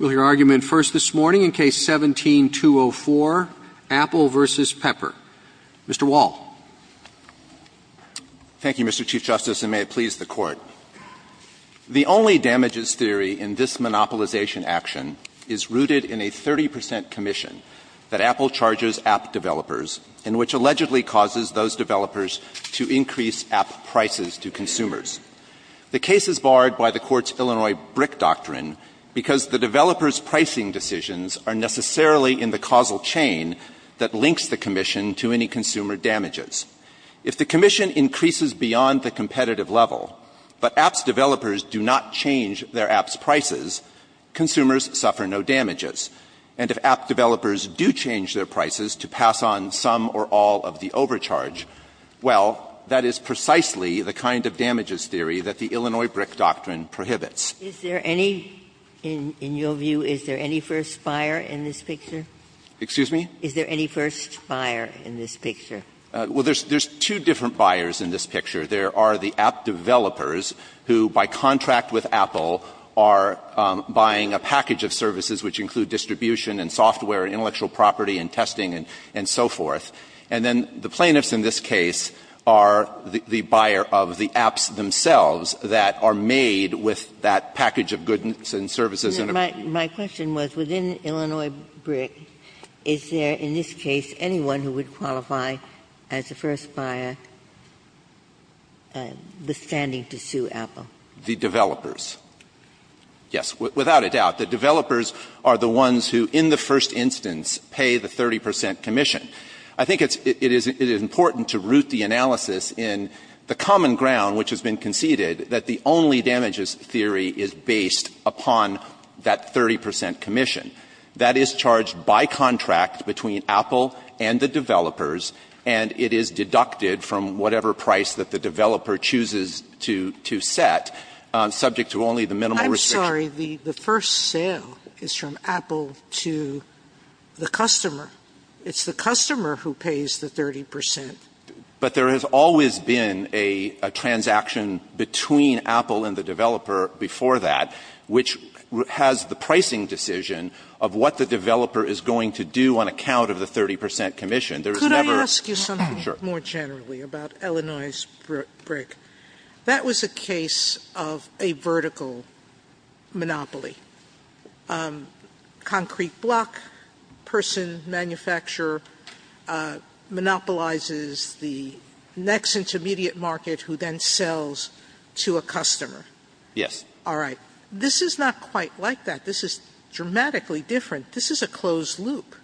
Mr. Wall. Mr. Wall. Thank you, Mr. Chief Justice, and may it please the Court. The only damages theory in this monopolization action is rooted in a 30 percent commission that Apple charges app developers, and which allegedly causes those developers to increase app prices to consumers. The case is barred by the Court's Illinois BRIC doctrine because the developers pricing decisions are necessarily in the causal chain that links the commission to any consumer damages. If the commission increases beyond the competitive level, but apps developers do not change their apps' prices, consumers suffer no damages. And if app developers do change their prices to pass on some or all of the overcharge, well, that is precisely the kind of damages theory that the Illinois BRIC doctrine prohibits. Ginsburg Is there any, in your view, is there any first buyer in this picture? Mr. Wall. Excuse me? Ginsburg Is there any first buyer in this picture? Mr. Wall. Well, there's two different buyers in this picture. There are the app developers who, by contract with Apple, are buying a package of services which include distribution and software, intellectual property and testing and so forth. And then the plaintiffs in this case are the buyer of the apps themselves that are made with that package of goods and services. Ginsburg My question was, within Illinois BRIC, is there in this case anyone who would qualify as a first buyer, withstanding to sue Apple? Mr. Wall. The developers, yes, without a doubt. The developers are the ones who, in the first instance, pay the 30 percent commission. I think it is important to root the analysis in the common ground which has been conceded, that the only damages theory is based upon that 30 percent commission. That is charged by contract between Apple and the developers, and it is deducted from whatever price that the developer chooses to set, subject to only the minimal restriction. Sotomayor I'm sorry. The first sale is from Apple to the customer. It's the customer who pays the 30 percent. But there has always been a transaction between Apple and the developer before that which has the pricing decision of what the developer is going to do on account of the 30 percent commission. There is never ---- Sotomayor Could I ask you something more generally about Illinois' BRIC? That was a case of a vertical monopoly. A concrete block person, manufacturer, monopolizes the next intermediate market who then sells to a customer. Yes. Sotomayor All right. This is not quite like that. This is dramatically different. This is a closed loop. Breyer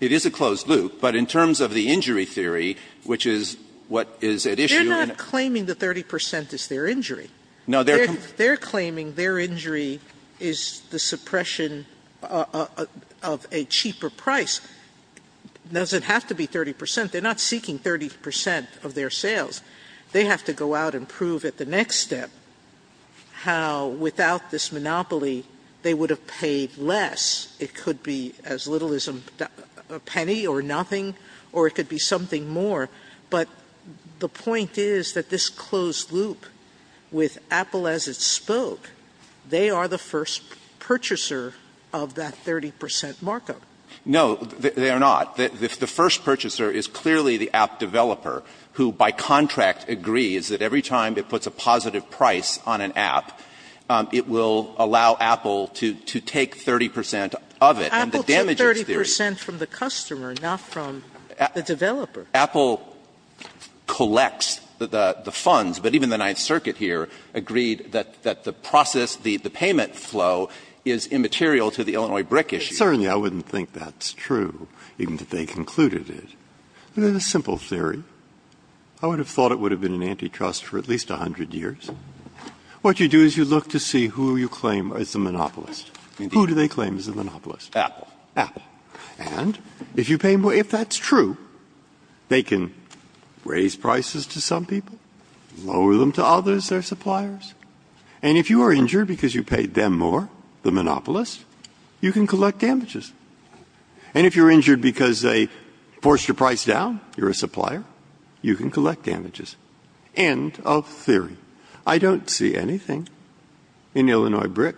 It is a closed loop, but in terms of the injury theory, which is what is at issue in ---- Sotomayor They are not claiming the 30 percent is their injury. Breyer No, they are ---- Sotomayor They are claiming their injury is the suppression of a cheaper price. It doesn't have to be 30 percent. They are not seeking 30 percent of their sales. They have to go out and prove at the next step how without this monopoly they would have paid less. It could be as little as a penny or nothing, or it could be something more. But the point is that this closed loop with Apple as it spoke, they are the first purchaser of that 30 percent markup. Breyer No, they are not. The first purchaser is clearly the app developer, who by contract agrees that every time it puts a positive price on an app, it will allow Apple to take 30 percent of it. And the damage is theory. Sotomayor Apple took 30 percent from the customer, not from the developer. Breyer Apple collects the funds, but even the Ninth Circuit here agreed that the process, the payment flow, is immaterial to the Illinois brick issue. Breyer Certainly, I wouldn't think that's true, even if they concluded it. It is a simple theory. I would have thought it would have been an antitrust for at least 100 years. What you do is you look to see who you claim is the monopolist. Who do they claim is the monopolist? Sotomayor Apple. Breyer Apple. And if you pay more, if that's true, they can raise prices to some people, lower them to others, their suppliers. And if you are injured because you paid them more, the monopolist, you can collect damages. And if you're injured because they forced your price down, you're a supplier, you can collect damages. End of theory. I don't see anything in Illinois brick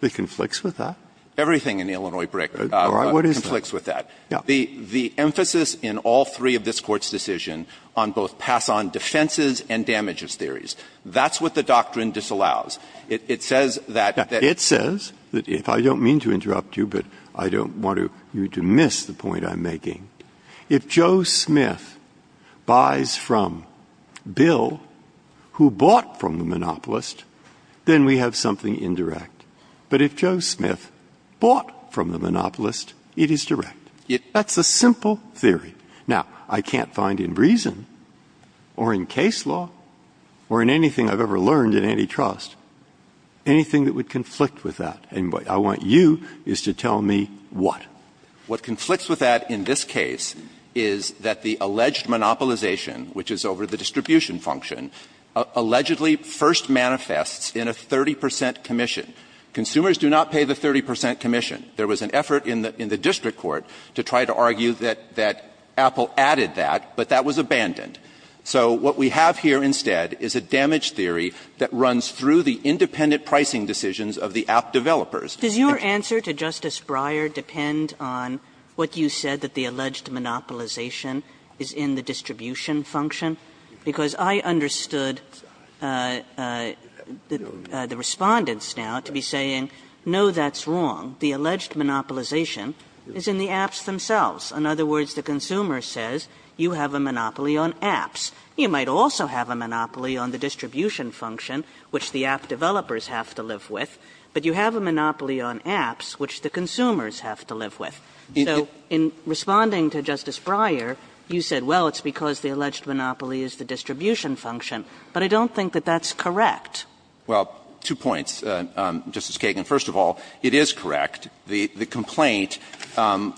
that conflicts with that. Everything in Illinois brick conflicts with that. The emphasis in all three of this Court's decision on both pass-on defenses and damages theories, that's what the doctrine disallows. It says that they're Breyer It says, if I don't mean to interrupt you, but I don't want you to miss the point I'm making, if Joe Smith buys from Bill, who bought from the monopolist, then we have something indirect. But if Joe Smith bought from the monopolist, it is direct. That's a simple theory. Now, I can't find in reason or in case law or in anything I've ever learned in antitrust anything that would conflict with that. And what I want you is to tell me what. What conflicts with that in this case is that the alleged monopolization, which is over the distribution function, allegedly first manifests in a 30 percent commission. Consumers do not pay the 30 percent commission. There was an effort in the district court to try to argue that Apple added that, but that was abandoned. So what we have here instead is a damage theory that runs through the independent pricing decisions of the app developers. Kagan Does your answer to Justice Breyer depend on what you said, that the alleged monopolization is in the distribution function? Because I understood the Respondents now to be saying, no, that's wrong. The alleged monopolization is in the apps themselves. In other words, the consumer says you have a monopoly on apps. You might also have a monopoly on the distribution function, which the app developers have to live with. But you have a monopoly on apps, which the consumers have to live with. So in responding to Justice Breyer, you said, well, it's because the alleged monopoly is the distribution function, but I don't think that that's correct. Well, two points, Justice Kagan. First of all, it is correct. The complaint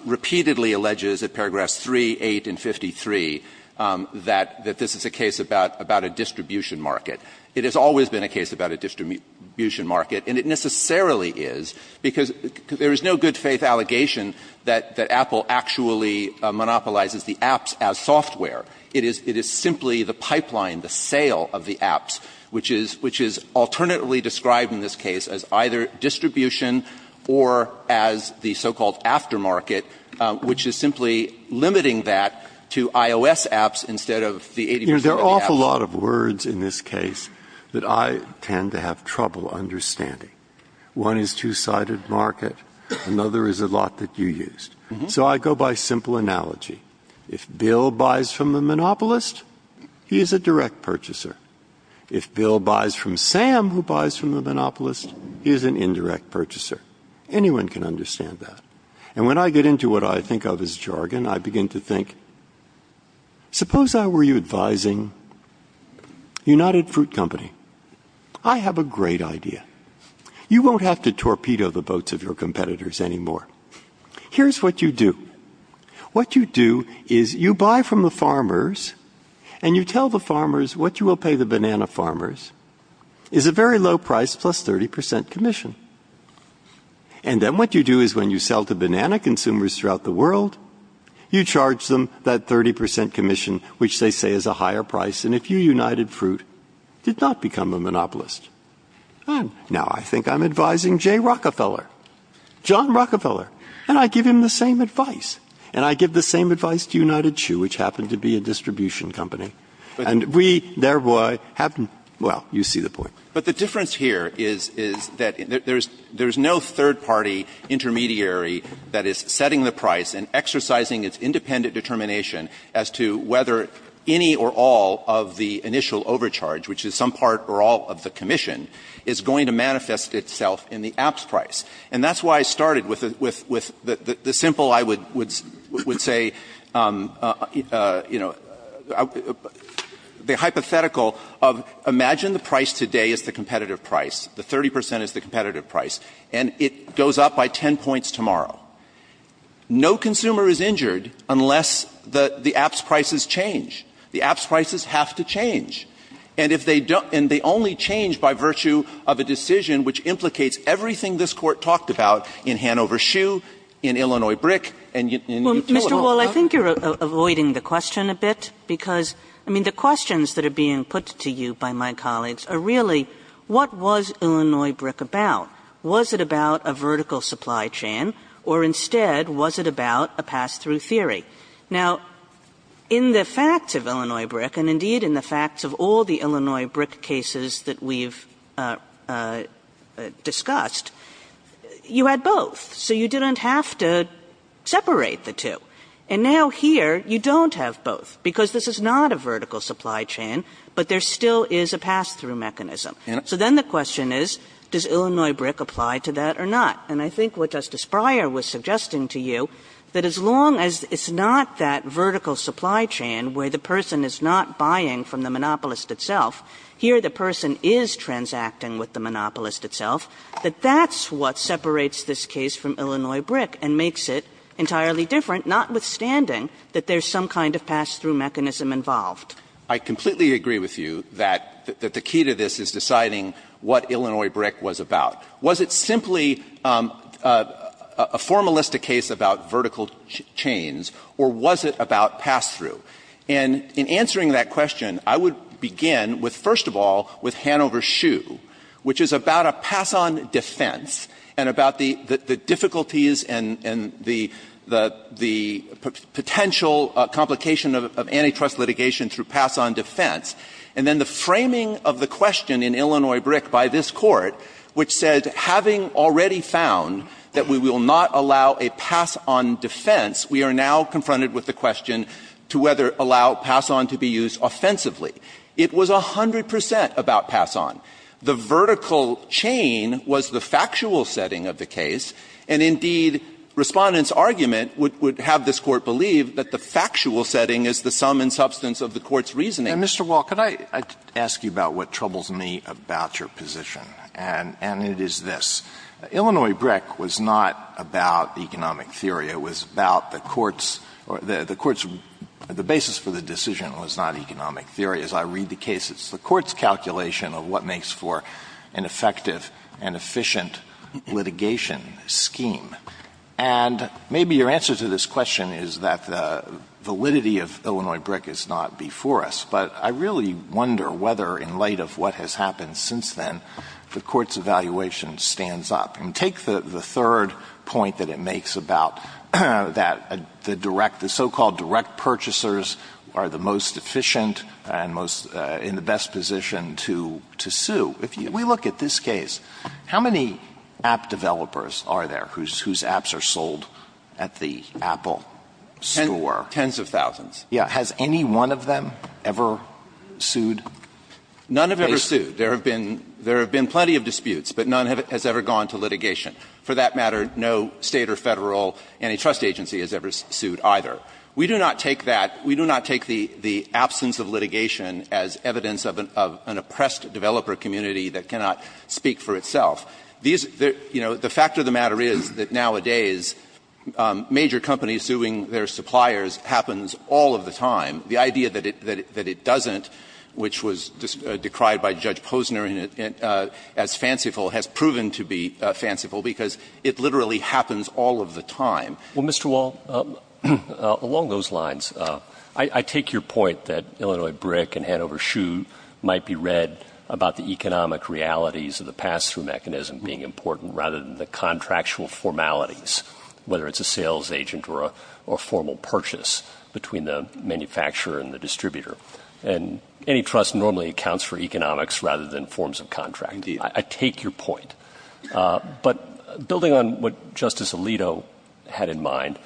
repeatedly alleges at paragraphs 3, 8, and 53 that this is a case about a distribution market. It has always been a case about a distribution market, and it necessarily is, because there is no good-faith allegation that Apple actually monopolizes the apps as software. It is simply the pipeline, the sale of the apps, which is alternately described in this case as either distribution or as the so-called aftermarket, which is simply limiting that to iOS apps instead of the 80 percent of the apps. Breyer. There are an awful lot of words in this case that I tend to have trouble understanding. One is two-sided market. Another is a lot that you used. So I go by simple analogy. If Bill buys from the monopolist, he is a direct purchaser. If Bill buys from Sam, who buys from the monopolist, he is an indirect purchaser. Anyone can understand that. And when I get into what I think of as jargon, I begin to think, suppose I were you advising United Fruit Company. I have a great idea. You won't have to torpedo the boats of your competitors anymore. Here is what you do. What you do is you buy from the farmers, and you tell the farmers what you will pay the banana farmers is a very low price plus 30 percent commission. And then what you do is when you sell to banana consumers throughout the world, you charge them that 30 percent commission, which they say is a higher price. And if you, United Fruit, did not become a monopolist, now I think I'm advising Jay Rockefeller, John Rockefeller, and I give him the same advice. And I give the same advice to United Chew, which happened to be a distribution company, and we thereby have, well, you see the point. But the difference here is that there is no third party intermediary that is setting the price and exercising its independent determination as to whether any or all of the initial overcharge, which is some part or all of the commission, is going to manifest itself in the app's price. And that's why I started with the simple, I would say, you know, the hypothetical of imagine the price today is the competitive price, the 30 percent is the competitive price, and it goes up by 10 points tomorrow. No consumer is injured unless the app's prices change. The app's prices have to change. And if they don't, and they only change by virtue of a decision which implicates everything this Court talked about in Hanover Chew, in Illinois Brick, and in Newport. Kagan. Kagan. Kagan. Kagan. Kagan. Kagan. Kagan. Kagan. Kagan. Kagan. Kagan. Kagan. Kagan. Kagan. Kagan. Now, the question was not was it about a vertical supply chain or instead was it about a pass-through theory. Now in the facts of Illinois brick, and indeed in the facts of all the Illinois brick cases that we've discussed, you had both. So you didn't have to separate the two. And now here you don't have both because this is not a vertical supply chain, but there still is a pass-through mechanism. So then the question is, does Illinois brick apply to that or not? And I think what Justice Breyer was suggesting to you, that as long as it's not that vertical supply chain where the person is not buying from the monopolist itself, here the person is transacting with the monopolist itself, that that's what separates this case from Illinois brick and makes it entirely different, notwithstanding that there's some kind of pass-through mechanism involved. I completely agree with you that the key to this is deciding what Illinois brick was about. Was it simply a formalistic case about vertical chains or was it about pass-through? And in answering that question, I would begin with, first of all, with Hanover Shoe, which is about a pass-on defense and about the difficulties and the potential complication of antitrust litigation through pass-on defense. And then the framing of the question in Illinois brick by this Court, which said, having already found that we will not allow a pass-on defense, we are now confronted with the question to whether allow pass-on to be used offensively. It was 100 percent about pass-on. The vertical chain was the factual setting of the case, and indeed Respondent's Court believed that the factual setting is the sum and substance of the Court's reasoning. Mr. Wall, could I ask you about what troubles me about your position? And it is this. Illinois brick was not about economic theory. It was about the Court's or the Court's the basis for the decision was not economic theory. As I read the case, it's the Court's calculation of what makes for an effective and efficient litigation scheme. And maybe your answer to this question is that the validity of Illinois brick is not before us, but I really wonder whether, in light of what has happened since then, the Court's evaluation stands up. And take the third point that it makes about that the direct — the so-called direct purchasers are the most efficient and most — in the best position to sue. If we look at this case, how many app developers are there whose apps are sold at the Apple store? Tens of thousands. Yeah. Has any one of them ever sued? None have ever sued. There have been plenty of disputes, but none has ever gone to litigation. For that matter, no State or Federal antitrust agency has ever sued either. We do not take that — we do not take the absence of litigation as evidence of an oppressed developer community that cannot speak for itself. These — you know, the fact of the matter is that nowadays, major companies suing their suppliers happens all of the time. The idea that it doesn't, which was decried by Judge Posner as fanciful, has proven to be fanciful because it literally happens all of the time. Well, Mr. Wall, along those lines, I take your point that Illinois brick and Hanover shoe might be read about the economic realities of the pass-through mechanism being important rather than the contractual formalities, whether it's a sales agent or a formal purchase between the manufacturer and the distributor. And antitrust normally accounts for economics rather than forms of contracting. I take your point. But building on what Justice Alito had in mind,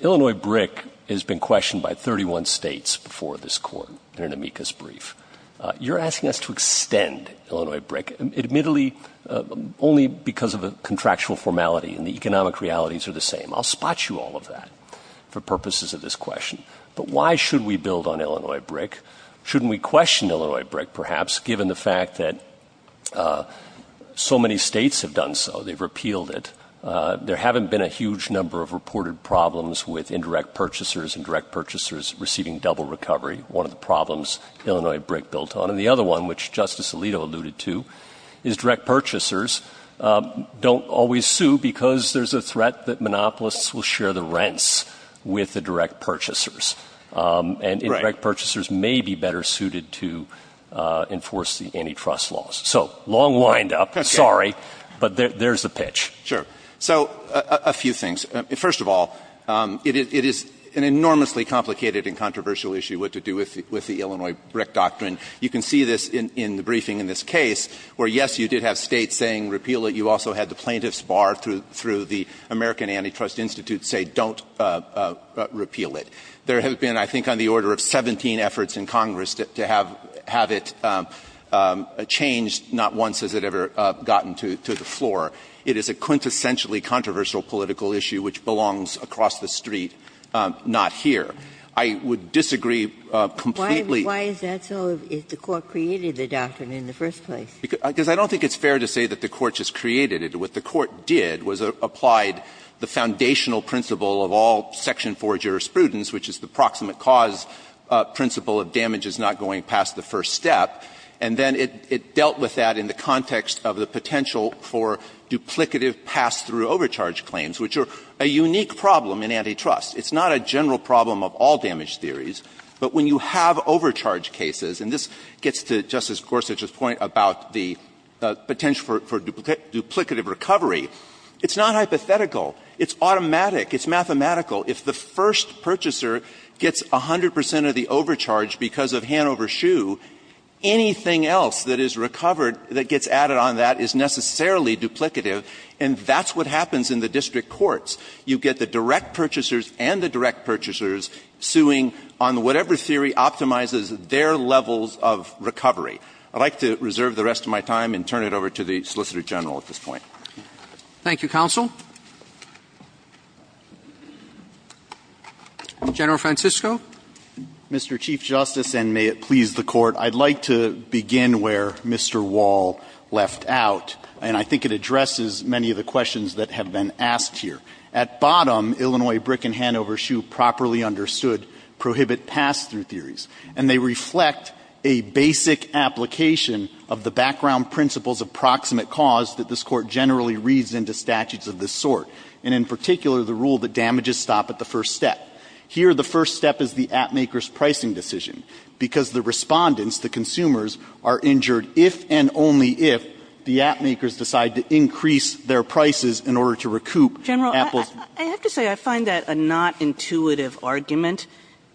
Illinois brick has been questioned by 31 states before this Court in an amicus brief. You're asking us to extend Illinois brick, admittedly, only because of a contractual formality and the economic realities are the same. I'll spot you all of that for purposes of this question. But why should we build on Illinois brick? Shouldn't we question Illinois brick, perhaps, given the fact that so many states have done so? They've repealed it. There haven't been a huge number of reported problems with indirect purchasers and direct purchasers receiving double recovery, one of the problems Illinois brick built on. And the other one, which Justice Alito alluded to, is direct purchasers don't always sue because there's a threat that monopolists will share the rents with the direct purchasers. And indirect purchasers may be better suited to enforce the antitrust laws. So long wind up. Sorry. But there's the pitch. Sure. So a few things. First of all, it is an enormously complicated and controversial issue what to do with the Illinois brick doctrine. You can see this in the briefing in this case, where, yes, you did have States saying repeal it. You also had the plaintiffs bar through the American Antitrust Institute say don't repeal it. There have been, I think, on the order of 17 efforts in Congress to have it changed. Not once has it ever gotten to the floor. It is a quintessentially controversial political issue which belongs across the street, not here. I would disagree completely. Why is that so, if the Court created the doctrine in the first place? Because I don't think it's fair to say that the Court just created it. What the Court did was applied the foundational principle of all section 4 jurisprudence, which is the proximate cause principle of damage is not going past the first step. And then it dealt with that in the context of the potential for duplicative pass-through overcharge claims, which are a unique problem in antitrust. It's not a general problem of all damage theories. But when you have overcharge cases, and this gets to Justice Gorsuch's point about the potential for duplicative recovery, it's not hypothetical. It's automatic. It's mathematical. If the first purchaser gets 100 percent of the overcharge because of hand over shoe, anything else that is recovered that gets added on that is necessarily duplicative, and that's what happens in the district courts. You get the direct purchasers and the direct purchasers suing on whatever theory optimizes their levels of recovery. I'd like to reserve the rest of my time and turn it over to the Solicitor General at this point. Roberts. Thank you, counsel. General Francisco. Mr. Chief Justice, and may it please the Court, I'd like to begin where Mr. Wall left out, and I think it addresses many of the questions that have been asked here. At bottom, Illinois brick and hand over shoe properly understood prohibit pass-through theories, and they reflect a basic application of the background principles of proximate cause that this Court generally reads into statutes of this sort, and in particular, the rule that damages stop at the first step. Here, the first step is the app maker's pricing decision, because the respondents, the consumers, are injured if and only if the app makers decide to increase their prices in order to recoup Apple's. General, I have to say, I find that a not intuitive argument,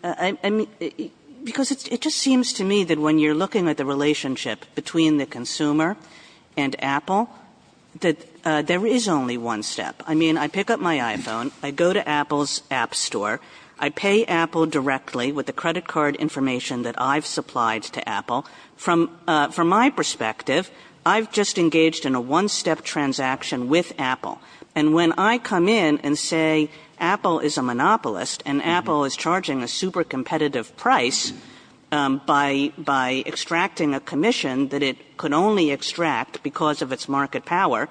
because it just seems to me that when you're looking at the relationship between the consumer and Apple, that there is only one step. I mean, I pick up my iPhone, I go to Apple's app store, I pay Apple directly with the credit card information that I've supplied to Apple. From my perspective, I've just engaged in a one-step transaction with Apple. And when I come in and say, Apple is a monopolist, and Apple is charging a super competitive price by extracting a commission that it could only extract because of its market power,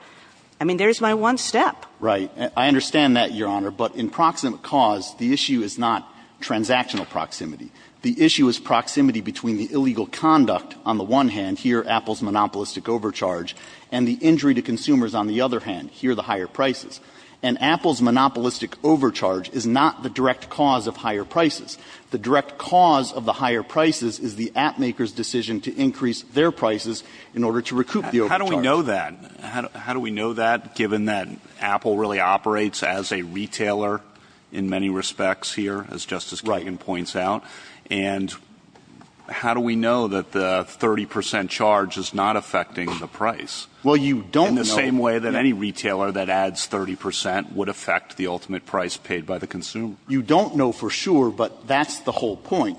I mean, there's my one step. Right. I understand that, Your Honor. But in proximate cause, the issue is not transactional proximity. The issue is proximity between the illegal conduct, on the one hand, here, Apple's monopolistic overcharge, and the injury to consumers, on the other hand, here, the higher prices. And Apple's monopolistic overcharge is not the direct cause of higher prices. The direct cause of the higher prices is the app maker's decision to increase their prices in order to recoup the overcharge. But how do we know that? How do we know that, given that Apple really operates as a retailer in many respects here, as Justice Kagan points out? And how do we know that the 30% charge is not affecting the price? Well, you don't know. In the same way that any retailer that adds 30% would affect the ultimate price paid by the consumer. You don't know for sure, but that's the whole point.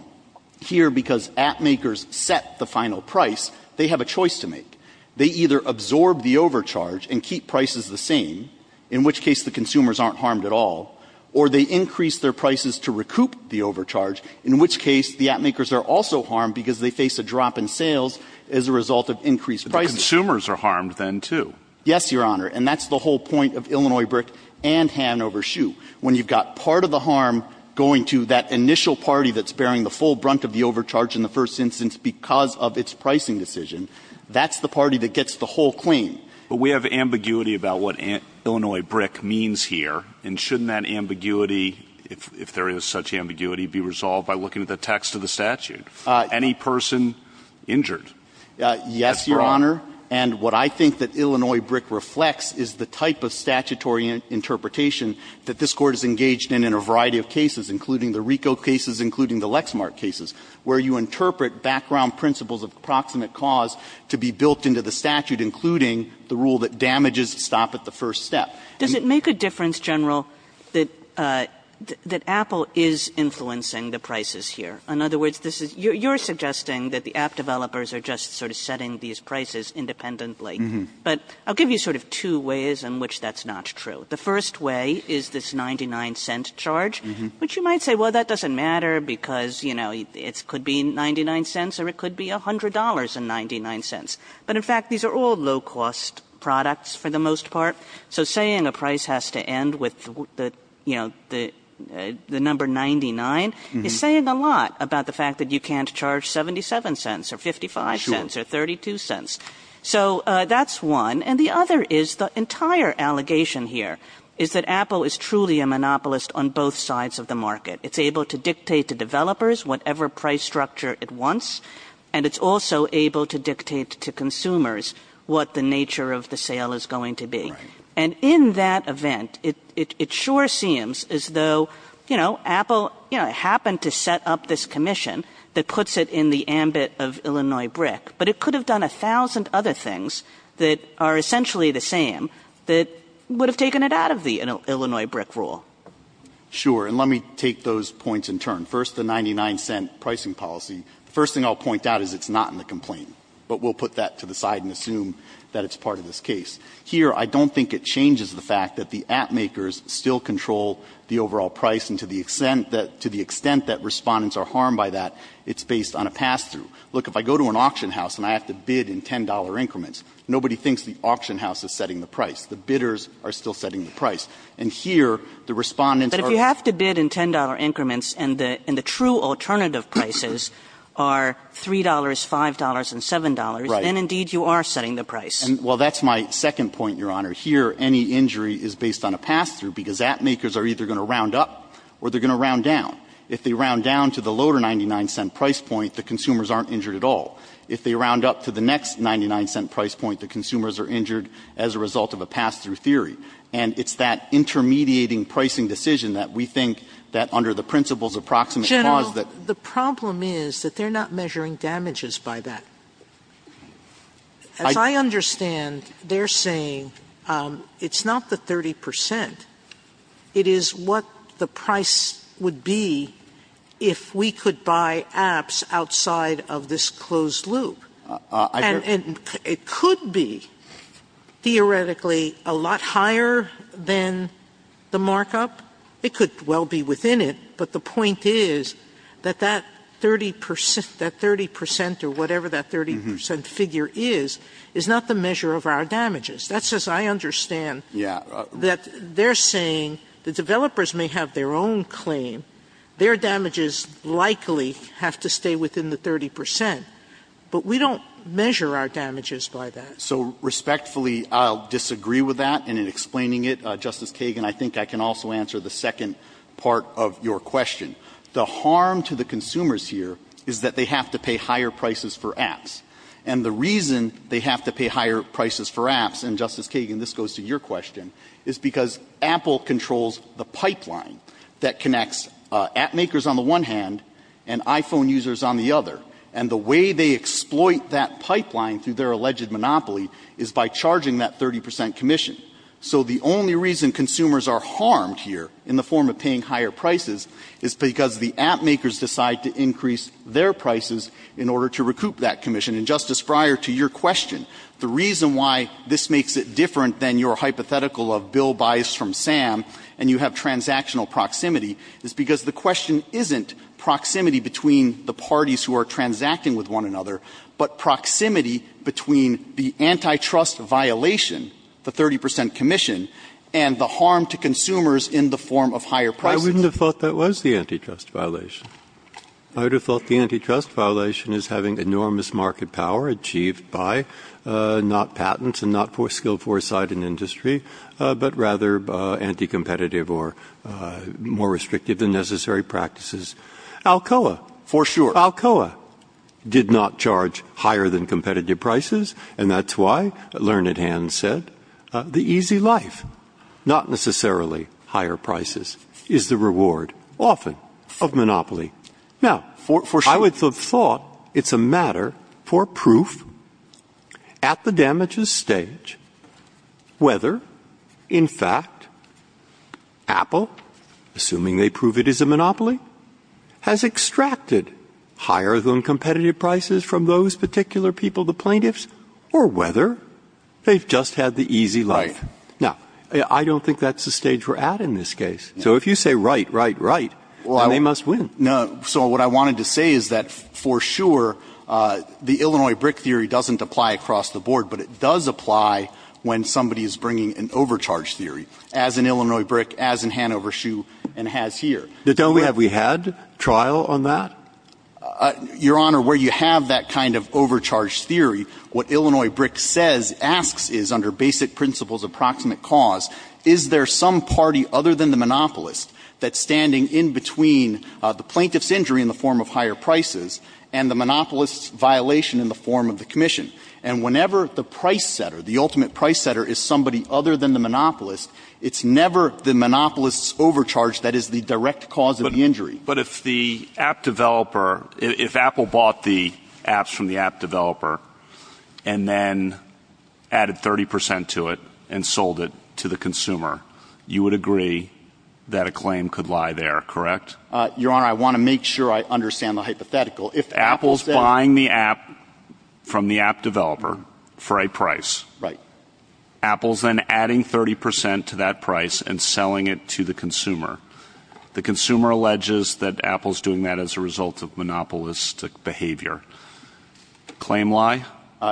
Here, because app makers set the final price, they have a choice to make. They either absorb the overcharge and keep prices the same, in which case the consumers aren't harmed at all, or they increase their prices to recoup the overcharge, in which case the app makers are also harmed because they face a drop in sales as a result of increased prices. But the consumers are harmed then, too. Yes, Your Honor. And that's the whole point of Illinois BRIC and Hanover SHU. When you've got part of the harm going to that initial party that's bearing the full brunt of the overcharge in the first instance because of its pricing decision, that's the party that gets the whole claim. But we have ambiguity about what Illinois BRIC means here, and shouldn't that ambiguity, if there is such ambiguity, be resolved by looking at the text of the statute? Any person injured? Yes, Your Honor, and what I think that Illinois BRIC reflects is the type of statutory interpretation that this Court has engaged in in a variety of cases, including the RICO cases, including the Lexmark cases, where you interpret background principles of proximate cause to be built into the statute, including the rule that damages stop at the first step. Does it make a difference, General, that Apple is influencing the prices here? In other words, this is you're suggesting that the app developers are just sort of setting these prices independently. But I'll give you sort of two ways in which that's not true. The first way is this 99-cent charge, which you might say, well, that doesn't matter because, you know, it could be 99 cents or it could be $100.99. But in fact, these are all low-cost products for the most part. So saying a price has to end with the, you know, the number 99 is saying a lot about the fact that you can't charge 77 cents or 55 cents or 32 cents. So that's one. And the other is the entire allegation here is that Apple is truly a monopolist on both sides of the market. It's able to dictate to developers whatever price structure it wants. And it's also able to dictate to consumers what the nature of the sale is going to be. And in that event, it sure seems as though, you know, Apple, you know, happened to set up this commission that puts it in the ambit of Illinois BRIC. But it could have done a thousand other things that are essentially the same that would have taken it out of the Illinois BRIC rule. Sure. And let me take those points in turn. First, the 99-cent pricing policy. The first thing I'll point out is it's not in the complaint. But we'll put that to the side and assume that it's part of this case. Here, I don't think it changes the fact that the app makers still control the overall price and to the extent that respondents are harmed by that, it's based on a pass-through. Look, if I go to an auction house and I have to bid in $10 increments, nobody thinks the auction house is setting the price. And here, the respondents are going to be the bidders. So if you bid in $10 increments and the true alternative prices are $3, $5, and $7, then indeed you are setting the price. Well, that's my second point, Your Honor. Here, any injury is based on a pass-through because app makers are either going to round up or they're going to round down. If they round down to the lower 99-cent price point, the consumers aren't injured at all. If they round up to the next 99-cent price point, the consumers are injured as a result of a pass-through theory. And it's that intermediating pricing decision that we think that under the principles of proximate cause that the problem is that they're not measuring damages by that. As I understand, they're saying it's not the 30 percent. It is what the price would be if we could buy apps outside of this closed loop. And it could be theoretically a lot higher than the markup. It could well be within it. But the point is that that 30 percent or whatever that 30 percent figure is, is not the measure of our damages. That's as I understand that they're saying the developers may have their own claim. Their damages likely have to stay within the 30 percent. But we don't measure our damages by that. So respectfully, I'll disagree with that. And in explaining it, Justice Kagan, I think I can also answer the second part of your question. The harm to the consumers here is that they have to pay higher prices for apps. And the reason they have to pay higher prices for apps, and, Justice Kagan, this goes to your question, is because Apple controls the pipeline that connects app makers on the one hand and iPhone users on the other. And the way they exploit that pipeline through their alleged monopoly is by charging that 30 percent commission. So the only reason consumers are harmed here in the form of paying higher prices is because the app makers decide to increase their prices in order to recoup that commission. And, Justice Breyer, to your question, the reason why this makes it different than your hypothetical of Bill buys from Sam and you have transactional proximity is because the question isn't proximity between the parties who are transacting with one another, but proximity between the antitrust violation, the 30 percent commission, and the harm to consumers in the form of higher prices. I wouldn't have thought that was the antitrust violation. I would have thought the antitrust violation is having enormous market power achieved by not patents and not for skill, foresight and industry, but rather anti-competitive or more restrictive than necessary practices. Alcoa. For sure. Alcoa did not charge higher than competitive prices. And that's why Learned Hand said the easy life, not necessarily higher prices, is the reward often of monopoly. Now, I would have thought it's a matter for proof at the damages stage whether, in fact, Apple, assuming they prove it is a monopoly, has extracted higher than competitive prices from those particular people, the plaintiffs, or whether they've just had the easy life. Right. Now, I don't think that's the stage we're at in this case. So if you say right, right, right, they must win. No. So what I wanted to say is that, for sure, the Illinois brick theory doesn't apply across the board, but it does apply when somebody is bringing an overcharge theory, as in Illinois brick, as in Hanover shoe, and has here. Don't we have we had trial on that? Your Honor, where you have that kind of overcharge theory, what Illinois brick says, asks, is under basic principles of proximate cause, is there some party other than the monopolist that's standing in between the plaintiff's injury in the form of higher prices and the monopolist's violation in the form of the commission? And whenever the price setter, the ultimate price setter, is somebody other than the monopolist, it's never the monopolist's overcharge that is the direct cause of the injury. But if the app developer, if Apple bought the apps from the app developer and then added 30 percent to it and sold it to the consumer, you would agree that a claim could lie there, correct? Your Honor, I want to make sure I understand the hypothetical. If Apple's buying the app from the app developer for a price, Apple's then adding 30 percent to that price and selling it to the consumer. The consumer alleges that Apple's doing that as a result of monopolistic behavior. Claim lie?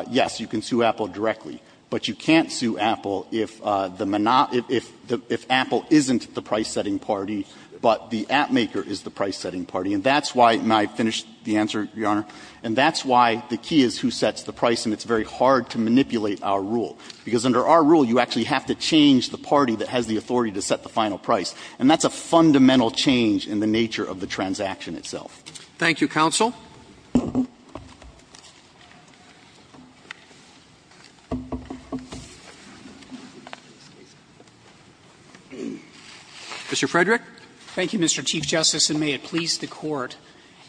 Yes, you can sue Apple directly, but you can't sue Apple if the if Apple isn't the price setting party, but the app maker is the price setting party. And that's why, and I finished the answer, Your Honor, and that's why the key is who sets the price, and it's very hard to manipulate our rule. Because under our rule, you actually have to change the party that has the authority to set the final price. And that's a fundamental change in the nature of the transaction itself. Thank you, counsel. Mr. Frederick. Frederick, thank you, Mr. Chief Justice, and may it please the Court.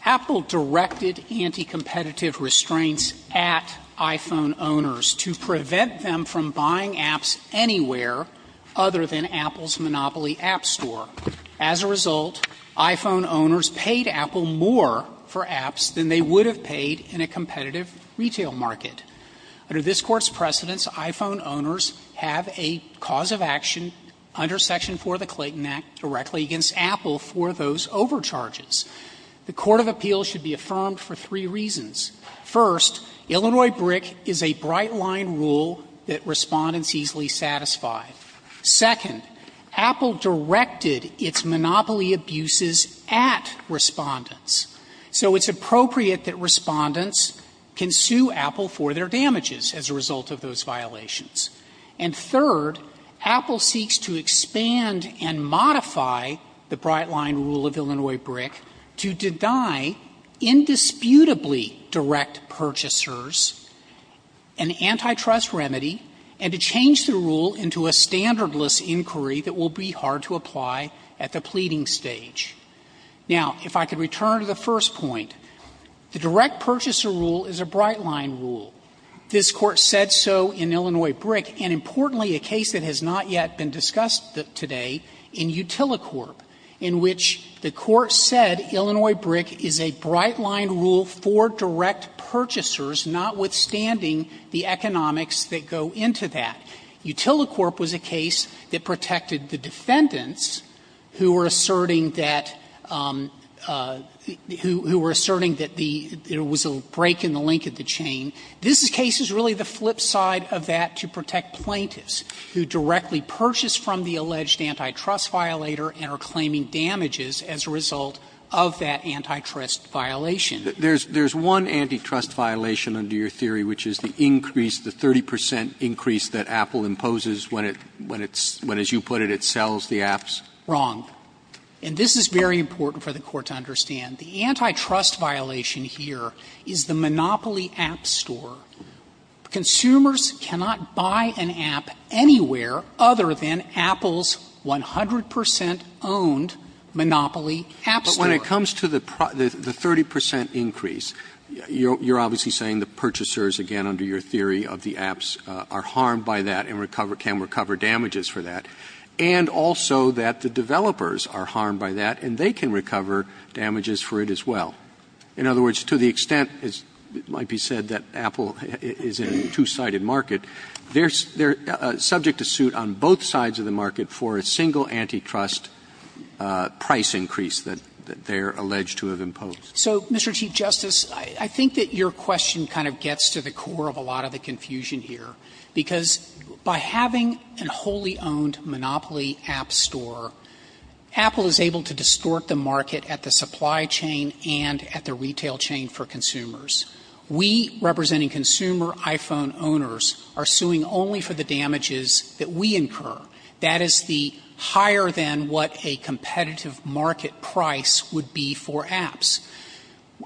Apple directed anti-competitive restraints at iPhone owners to prevent them from buying apps anywhere other than Apple's Monopoly app store. As a result, iPhone owners paid Apple more for apps than they would have paid in a competitive retail market. Under this Court's precedence, iPhone owners have a cause of action under section 4 of the Clayton Act directly against Apple for those overcharges. The court of appeals should be affirmed for three reasons. First, Illinois BRIC is a bright-line rule that Respondents easily satisfy. Second, Apple directed its Monopoly abuses at Respondents. So it's appropriate that Respondents can sue Apple for their damages as a result of those violations. And third, Apple seeks to expand and modify the bright-line rule of Illinois BRIC to deny indisputably direct purchasers an antitrust remedy and to change the rule into a standardless inquiry that will be hard to apply at the pleading stage. Now, if I could return to the first point, the direct purchaser rule is a bright-line rule. This Court said so in Illinois BRIC, and importantly, a case that has not yet been discussed today in Utilicorp, in which the Court said Illinois BRIC is a bright-line rule for direct purchasers, notwithstanding the economics that go into that. Utilicorp was a case that protected the defendants who were asserting that the – who were asserting that the – there was a break in the link of the chain. This case is really the flip side of that to protect plaintiffs who directly purchase from the alleged antitrust violator and are claiming damages as a result of that antitrust violation. Roberts. There's one antitrust violation under your theory, which is the increase, the 30 percent increase that Apple imposes when it's – when, as you put it, it sells the apps. Wrong. And this is very important for the Court to understand. The antitrust violation here is the Monopoly app store. Consumers cannot buy an app anywhere other than Apple's 100 percent owned Monopoly app store. But when it comes to the 30 percent increase, you're obviously saying the purchasers, again, under your theory of the apps, are harmed by that and can recover damages for that, and also that the developers are harmed by that and they can recover damages for it as well. In other words, to the extent, as might be said, that Apple is in a two-sided market, they're subject to suit on both sides of the market for a single antitrust price increase that they're alleged to have imposed. So, Mr. Chief Justice, I think that your question kind of gets to the core of a lot of the confusion here, because by having a wholly owned Monopoly app store, Apple is able to distort the market at the supply chain and at the retail chain for consumers. We, representing consumer iPhone owners, are suing only for the damages that we incur. That is the higher than what a competitive market price would be for apps.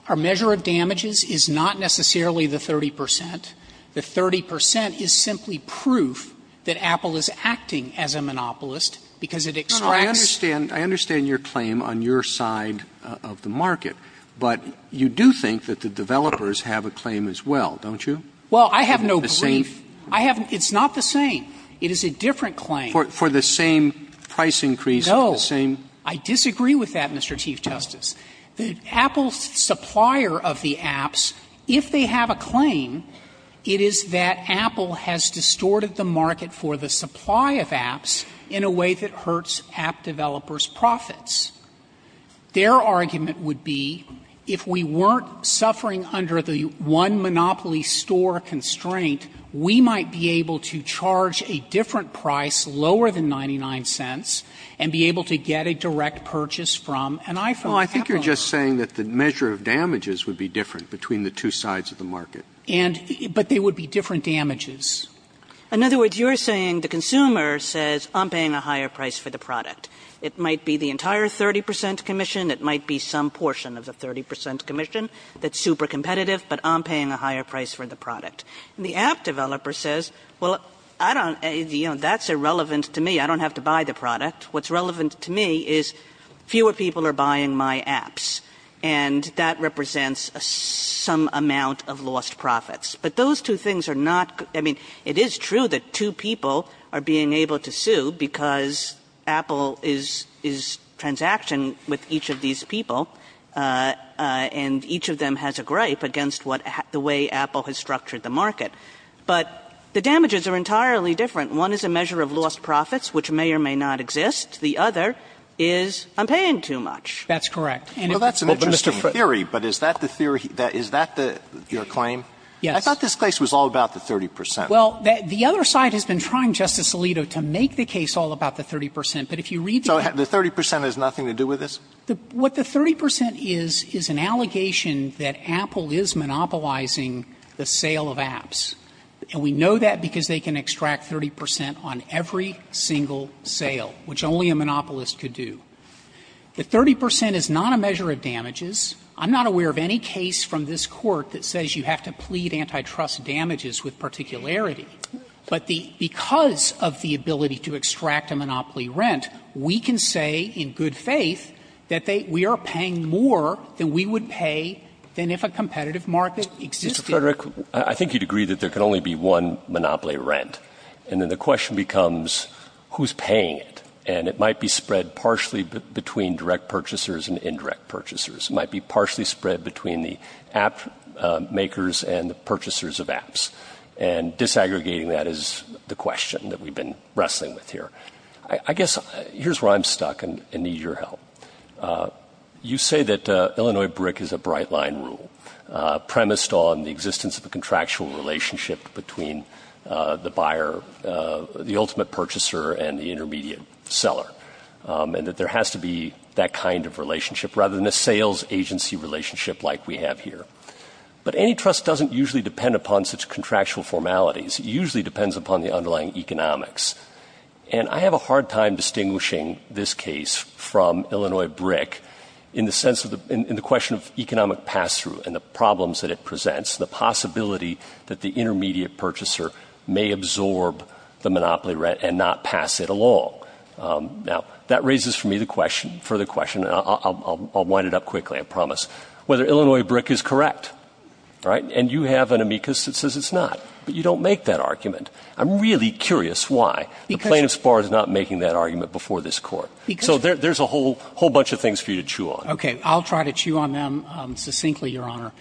Our measure of damages is not necessarily the 30 percent. The 30 percent is simply proof that Apple is acting as a monopolist because it extracts I understand your claim on your side of the market, but you do think that the developers have a claim as well, don't you? Well, I have no belief. It's not the same. It is a different claim. For the same price increase, the same? No. I disagree with that, Mr. Chief Justice. Apple's supplier of the apps, if they have a claim, it is that Apple has distorted the market for the supply of apps in a way that hurts app developers' profits. Their argument would be, if we weren't suffering under the one Monopoly store constraint, we might be able to charge a different price, lower than 99 cents, and be able to get a direct purchase from an iPhone. Well, I think you're just saying that the measure of damages would be different between the two sides of the market. And they would be different damages. In other words, you're saying the consumer says, I'm paying a higher price for the product. It might be the entire 30 percent commission. It might be some portion of the 30 percent commission that's super competitive, but I'm paying a higher price for the product. And the app developer says, well, I don't you know, that's irrelevant to me. I don't have to buy the product. What's relevant to me is fewer people are buying my apps. And that represents some amount of lost profits. But those two things are not good. I mean, it is true that two people are being able to sue because Apple is transaction with each of these people, and each of them has a gripe against what the way Apple has structured the market. But the damages are entirely different. One is a measure of lost profits, which may or may not exist. The other is I'm paying too much. That's correct. And if it's not true, it's not true. But that's an interesting theory, but is that the theory, is that your claim? Yes. I thought this case was all about the 30 percent. Well, the other side has been trying, Justice Alito, to make the case all about the 30 percent. But if you read the case. So the 30 percent has nothing to do with this? What the 30 percent is, is an allegation that Apple is monopolizing the sale of apps. And we know that because they can extract 30 percent on every single sale, which only a monopolist could do. The 30 percent is not a measure of damages. I'm not aware of any case from this Court that says you have to plead antitrust damages with particularity. But the – because of the ability to extract a monopoly rent, we can say in good faith that they – we are paying more than we would pay than if a competitive market existed. Mr. Frederick, I think you'd agree that there can only be one monopoly rent. And then the question becomes who's paying it. And it might be spread partially between direct purchasers and indirect purchasers. It might be partially spread between the app makers and the purchasers of apps. And disaggregating that is the question that we've been wrestling with here. I guess here's where I'm stuck and need your help. You say that Illinois BRIC is a bright-line rule premised on the existence of a contractual relationship between the buyer – the ultimate purchaser and the intermediate seller, and that there has to be that kind of relationship. Rather than a sales agency relationship like we have here. But antitrust doesn't usually depend upon such contractual formalities. It usually depends upon the underlying economics. And I have a hard time distinguishing this case from Illinois BRIC in the sense of the – in the question of economic pass-through and the problems that it presents, the possibility that the intermediate purchaser may absorb the monopoly rent and not pass it along. Now, that raises for me the question – further question. I'll wind it up quickly, I promise. Whether Illinois BRIC is correct, right? And you have an amicus that says it's not. But you don't make that argument. I'm really curious why. The plaintiff's bar is not making that argument before this Court. So there's a whole bunch of things for you to chew on. Okay. I'll try to chew on them succinctly, Your Honor.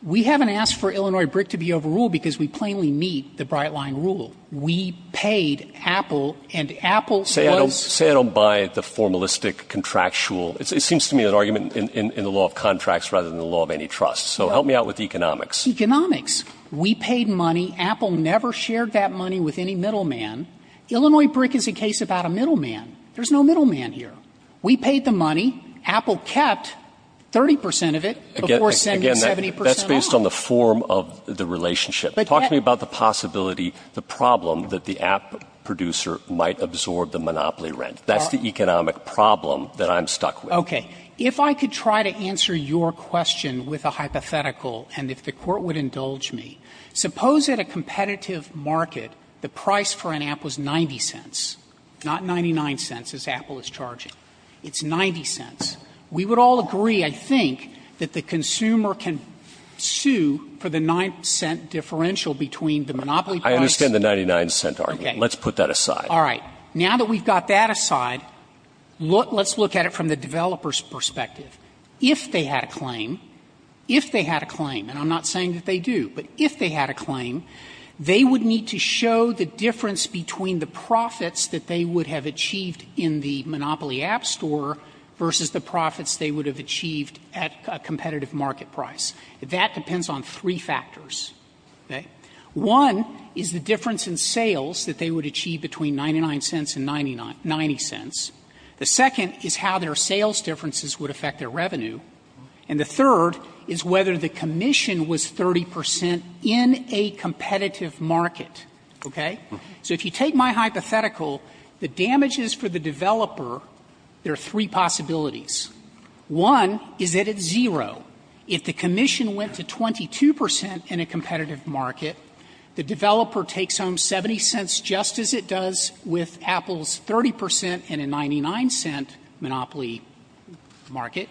We haven't asked for Illinois BRIC to be overruled because we plainly meet the bright-line rule. We paid Apple, and Apple was – Say I don't buy the formalistic contractual – it seems to me an argument in the law of contracts rather than the law of any trust. So help me out with economics. Economics. We paid money. Apple never shared that money with any middleman. Illinois BRIC is a case about a middleman. There's no middleman here. We paid the money. Apple kept 30 percent of it before sending 70 percent off. Again, that's based on the form of the relationship. Talk to me about the possibility, the problem that the app producer might absorb the monopoly rent. That's the economic problem that I'm stuck with. Okay. If I could try to answer your question with a hypothetical, and if the Court would indulge me, suppose at a competitive market the price for an app was 90 cents, not 99 cents as Apple is charging. It's 90 cents. We would all agree, I think, that the consumer can sue for the 9-cent differential between the monopoly price – I understand the 99-cent argument. Okay. Let's put that aside. All right. Now that we've got that aside, let's look at it from the developer's perspective. If they had a claim, if they had a claim, and I'm not saying that they do, but if they had a claim, they would need to show the difference between the profits that they would have achieved in the monopoly app store versus the profits they would have achieved at a competitive market price. That depends on three factors. Okay. One is the difference in sales that they would achieve between 99 cents and 90 cents. The second is how their sales differences would affect their revenue. And the third is whether the commission was 30 percent in a competitive market. Okay. So if you take my hypothetical, the damages for the developer, there are three possibilities. One is that it's zero. If the commission went to 22 percent in a competitive market, the developer takes home 70 cents just as it does with Apple's 30 percent in a 99-cent monopoly market.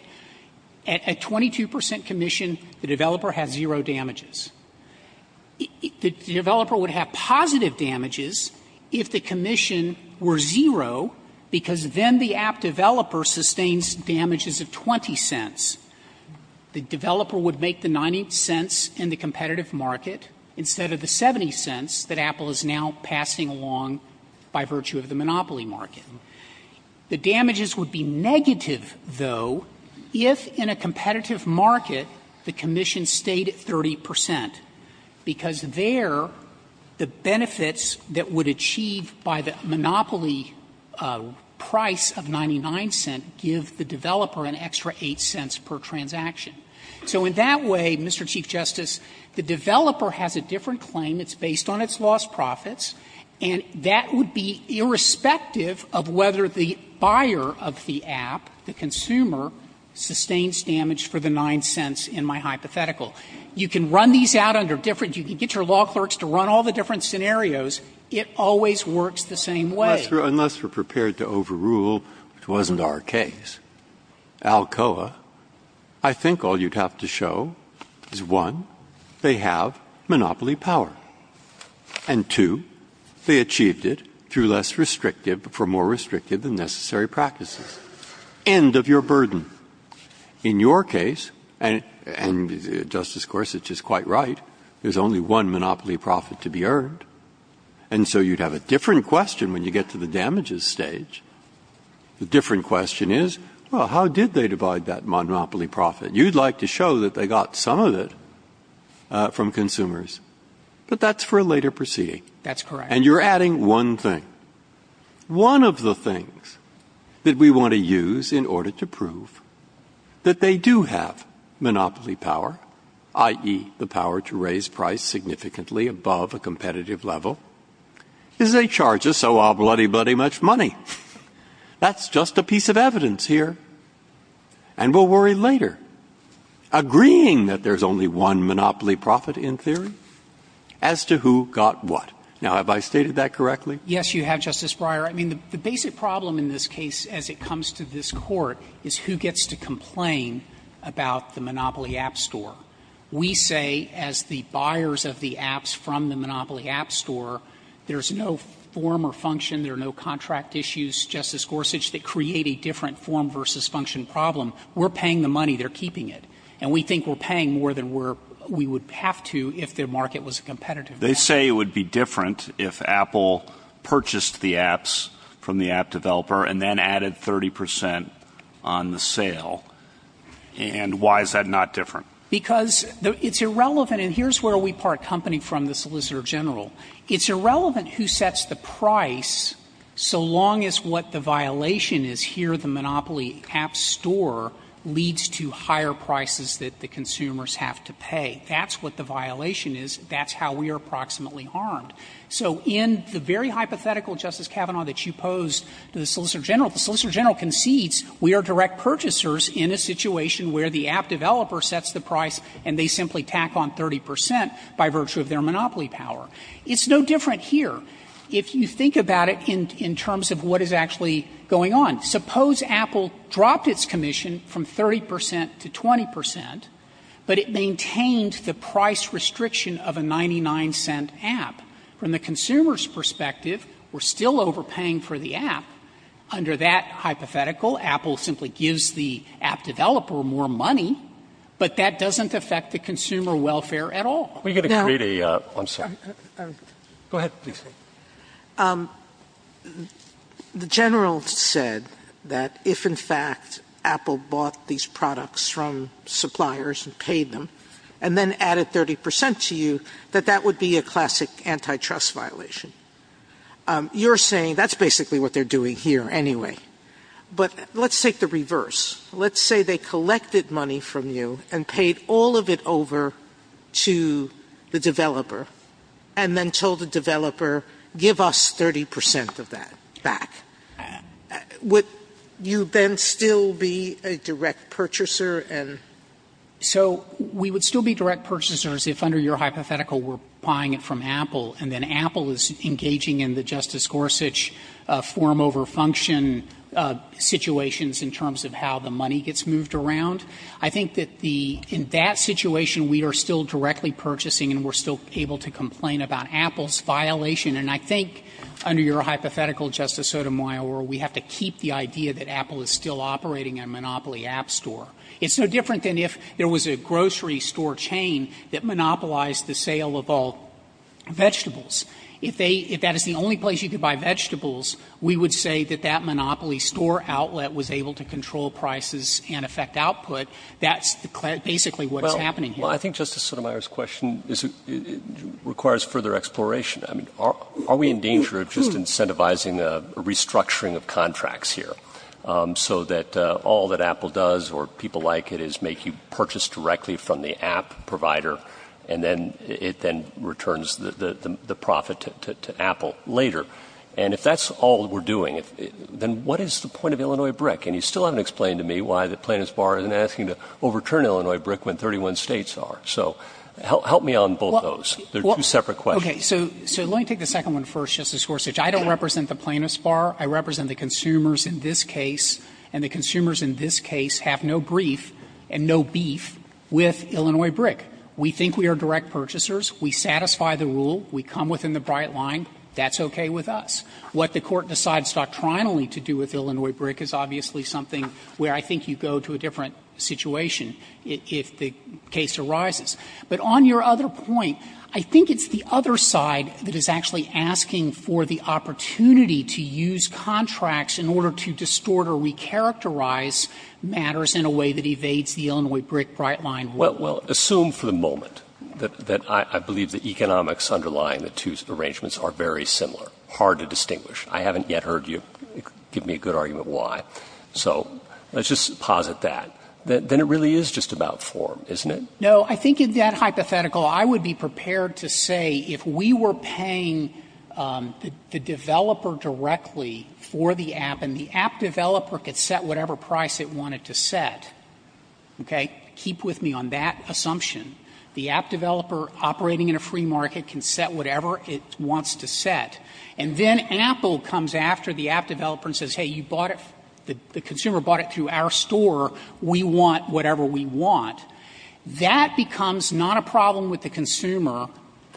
At a 22 percent commission, the developer has zero damages. The developer would have positive damages if the commission were zero, because then the app developer sustains damages of 20 cents. The developer would make the 90 cents in the competitive market instead of the 70 cents that Apple is now passing along by virtue of the monopoly market. The damages would be negative, though, if in a competitive market the commission stayed at 30 percent, because there the benefits that would achieve by the monopoly market would be the price of 99 cents give the developer an extra 8 cents per transaction. So in that way, Mr. Chief Justice, the developer has a different claim. It's based on its lost profits, and that would be irrespective of whether the buyer of the app, the consumer, sustains damage for the 9 cents in my hypothetical. You can run these out under different you can get your law clerks to run all the different scenarios. It always works the same way. Unless we're prepared to overrule, which wasn't our case, Alcoa, I think all you'd have to show is, one, they have monopoly power, and two, they achieved it through less restrictive, for more restrictive than necessary practices. End of your burden. In your case, and Justice Gorsuch is quite right, there's only one monopoly profit to be earned. And so you'd have a different question when you get to the damages stage. The different question is, well, how did they divide that monopoly profit? You'd like to show that they got some of it from consumers, but that's for a later proceeding. That's correct. And you're adding one thing. One of the things that we want to use in order to prove that they do have monopoly power, i.e., the power to raise price significantly above a competitive level, is they charge us so-a-bloody-buddy much money. That's just a piece of evidence here, and we'll worry later. Agreeing that there's only one monopoly profit, in theory, as to who got what. Now, have I stated that correctly? Yes, you have, Justice Breyer. I mean, the basic problem in this case as it comes to this Court is who gets to complain about the Monopoly App Store? We say as the buyers of the apps from the Monopoly App Store, there's no form or function, there are no contract issues, Justice Gorsuch, that create a different form versus function problem. We're paying the money. They're keeping it. And we think we're paying more than we would have to if the market was competitive. They say it would be different if Apple purchased the apps from the app developer and then added 30 percent on the sale. And why is that not different? Because it's irrelevant, and here's where we part company from the Solicitor General. It's irrelevant who sets the price, so long as what the violation is here, the Monopoly App Store leads to higher prices that the consumers have to pay. That's what the violation is. That's how we are approximately harmed. So in the very hypothetical, Justice Kavanaugh, that you posed to the Solicitor General, the Solicitor General concedes we are direct purchasers in a situation where the app developer sets the price and they simply tack on 30 percent by virtue of their Monopoly power. It's no different here. If you think about it in terms of what is actually going on, suppose Apple dropped its commission from 30 percent to 20 percent, but it maintained the price restriction of a 99-cent app. From the consumer's perspective, we're still overpaying for the app. Under that hypothetical, Apple simply gives the app developer more money, but that doesn't affect the consumer welfare at all. Now the General said that if in fact Apple bought these products from suppliers and paid them and then added 30 percent to you, that that would be a classic antitrust violation. You're saying that's basically what they're doing here anyway. But let's take the reverse. Let's say they collected money from you and paid all of it over to the developer and then told the developer, give us 30 percent of that back. Would you then still be a direct purchaser? And so we would still be direct purchasers if under your hypothetical we're buying it from Apple and then Apple is engaging in the Justice Gorsuch form over function situations in terms of how the money gets moved around. I think that the – in that situation, we are still directly purchasing and we're still able to complain about Apple's violation. And I think under your hypothetical, Justice Sotomayor, we have to keep the idea that Apple is still operating a monopoly app store. It's no different than if there was a grocery store chain that monopolized the sale of all vegetables. If they – if that is the only place you could buy vegetables, we would say that that monopoly store outlet was able to control prices and affect output. That's basically what's happening here. Well, I think Justice Sotomayor's question is – requires further exploration. I mean, are we in danger of just incentivizing a restructuring of contracts here so that all that Apple does or people like it is make you purchase directly from the app provider and then it then returns the profit to Apple later? And if that's all we're doing, then what is the point of Illinois BRIC? And you still haven't explained to me why the plaintiff's bar isn't asking to overturn Illinois BRIC when 31 states are. So help me on both those. They're two separate questions. Okay. So let me take the second one first, Justice Gorsuch. I don't represent the plaintiff's bar. I represent the consumers in this case, and the consumers in this case have no brief and no beef with Illinois BRIC. We think we are direct purchasers. We satisfy the rule. We come within the bright line. That's okay with us. What the Court decides doctrinally to do with Illinois BRIC is obviously something where I think you go to a different situation if the case arises. But on your other point, I think it's the other side that is actually asking for the opportunity to use contracts in order to distort or recharacterize matters in a way that evades the Illinois BRIC bright line rule. Well, assume for the moment that I believe the economics underlying the two arrangements are very similar, hard to distinguish. I haven't yet heard you give me a good argument why. So let's just posit that. Then it really is just about form, isn't it? No. I think in that hypothetical, I would be prepared to say if we were paying the developer directly for the app, and the app developer could set whatever price it wanted to set, okay, keep with me on that assumption, the app developer operating in a free market can set whatever it wants to set, and then Apple comes after the app developer and says, hey, you bought it, the consumer bought it through our store, we want whatever we want, that becomes not a problem with the consumer,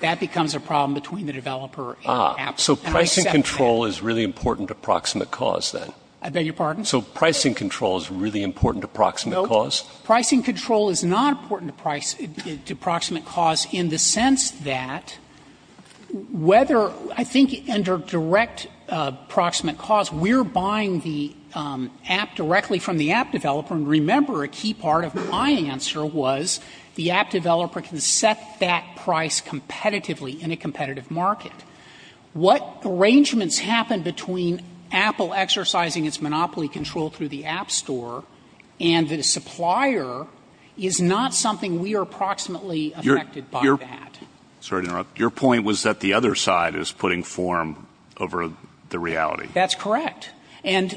that becomes a problem between the developer and the app. So pricing control is really important to proximate cause, then? I beg your pardon? So pricing control is really important to proximate cause? No. Pricing control is not important to proximate cause in the sense that whether ‑‑ I think under direct proximate cause, we're buying the app directly from the app developer, and remember a key part of my answer was the app developer can set that price competitively in a competitive market. What arrangements happen between Apple exercising its monopoly control through the app store and the supplier is not something we are proximately affected by that. Sorry to interrupt. Your point was that the other side is putting form over the reality. That's correct. And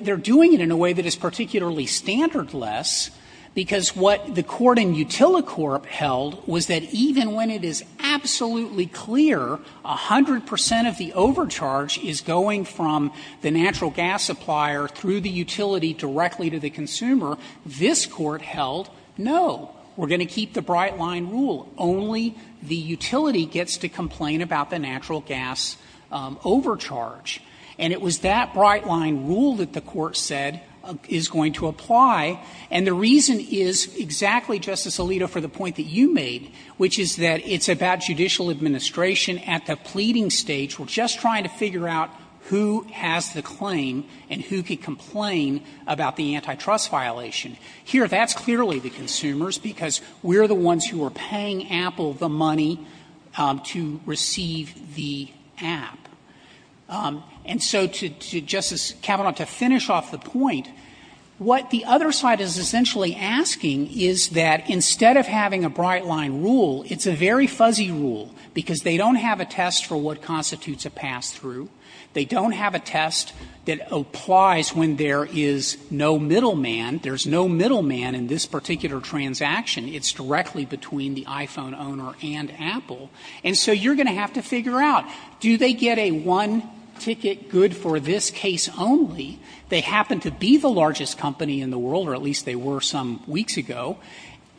they're doing it in a way that is particularly standardless, because what the court in Utilicorp held was that even when it is absolutely clear 100 percent of the overcharge is going from the natural gas supplier through the utility directly to the consumer, this court held, no, we're going to keep the bright line rule, only the utility gets to complain about the natural gas overcharge. And it was that bright line rule that the court said is going to apply, and the reason is exactly, Justice Alito, for the point that you made, which is that it's about judicial administration at the pleading stage. We're just trying to figure out who has the claim and who can complain about the antitrust violation. Here, that's clearly the consumers, because we're the ones who are paying Apple the money to receive the app. And so to Justice Kavanaugh, to finish off the point, what the other side is essentially asking is that instead of having a bright line rule, it's a very fuzzy rule, because they don't have a test for what constitutes a pass-through. They don't have a test that applies when there is no middleman. There's no middleman in this particular transaction. It's directly between the iPhone owner and Apple. And so you're going to have to figure out. Do they get a one-ticket good for this case only? They happen to be the largest company in the world, or at least they were some weeks ago,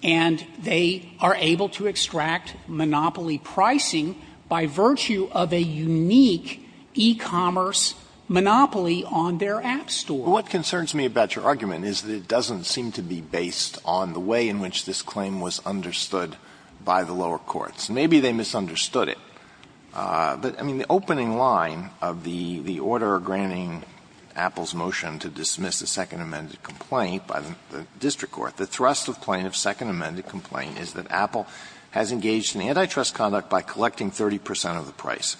and they are able to extract monopoly pricing by virtue of a unique e-commerce monopoly on their app store. Alito, what concerns me about your argument is that it doesn't seem to be based on the way in which this claim was understood by the lower courts. Maybe they misunderstood it. But, I mean, the opening line of the order granting Apple's motion to dismiss the Second Amended Complaint by the district court, the thrust of plaintiff's Second Amended Complaint is that Apple has engaged in antitrust conduct by collecting 30 percent of the price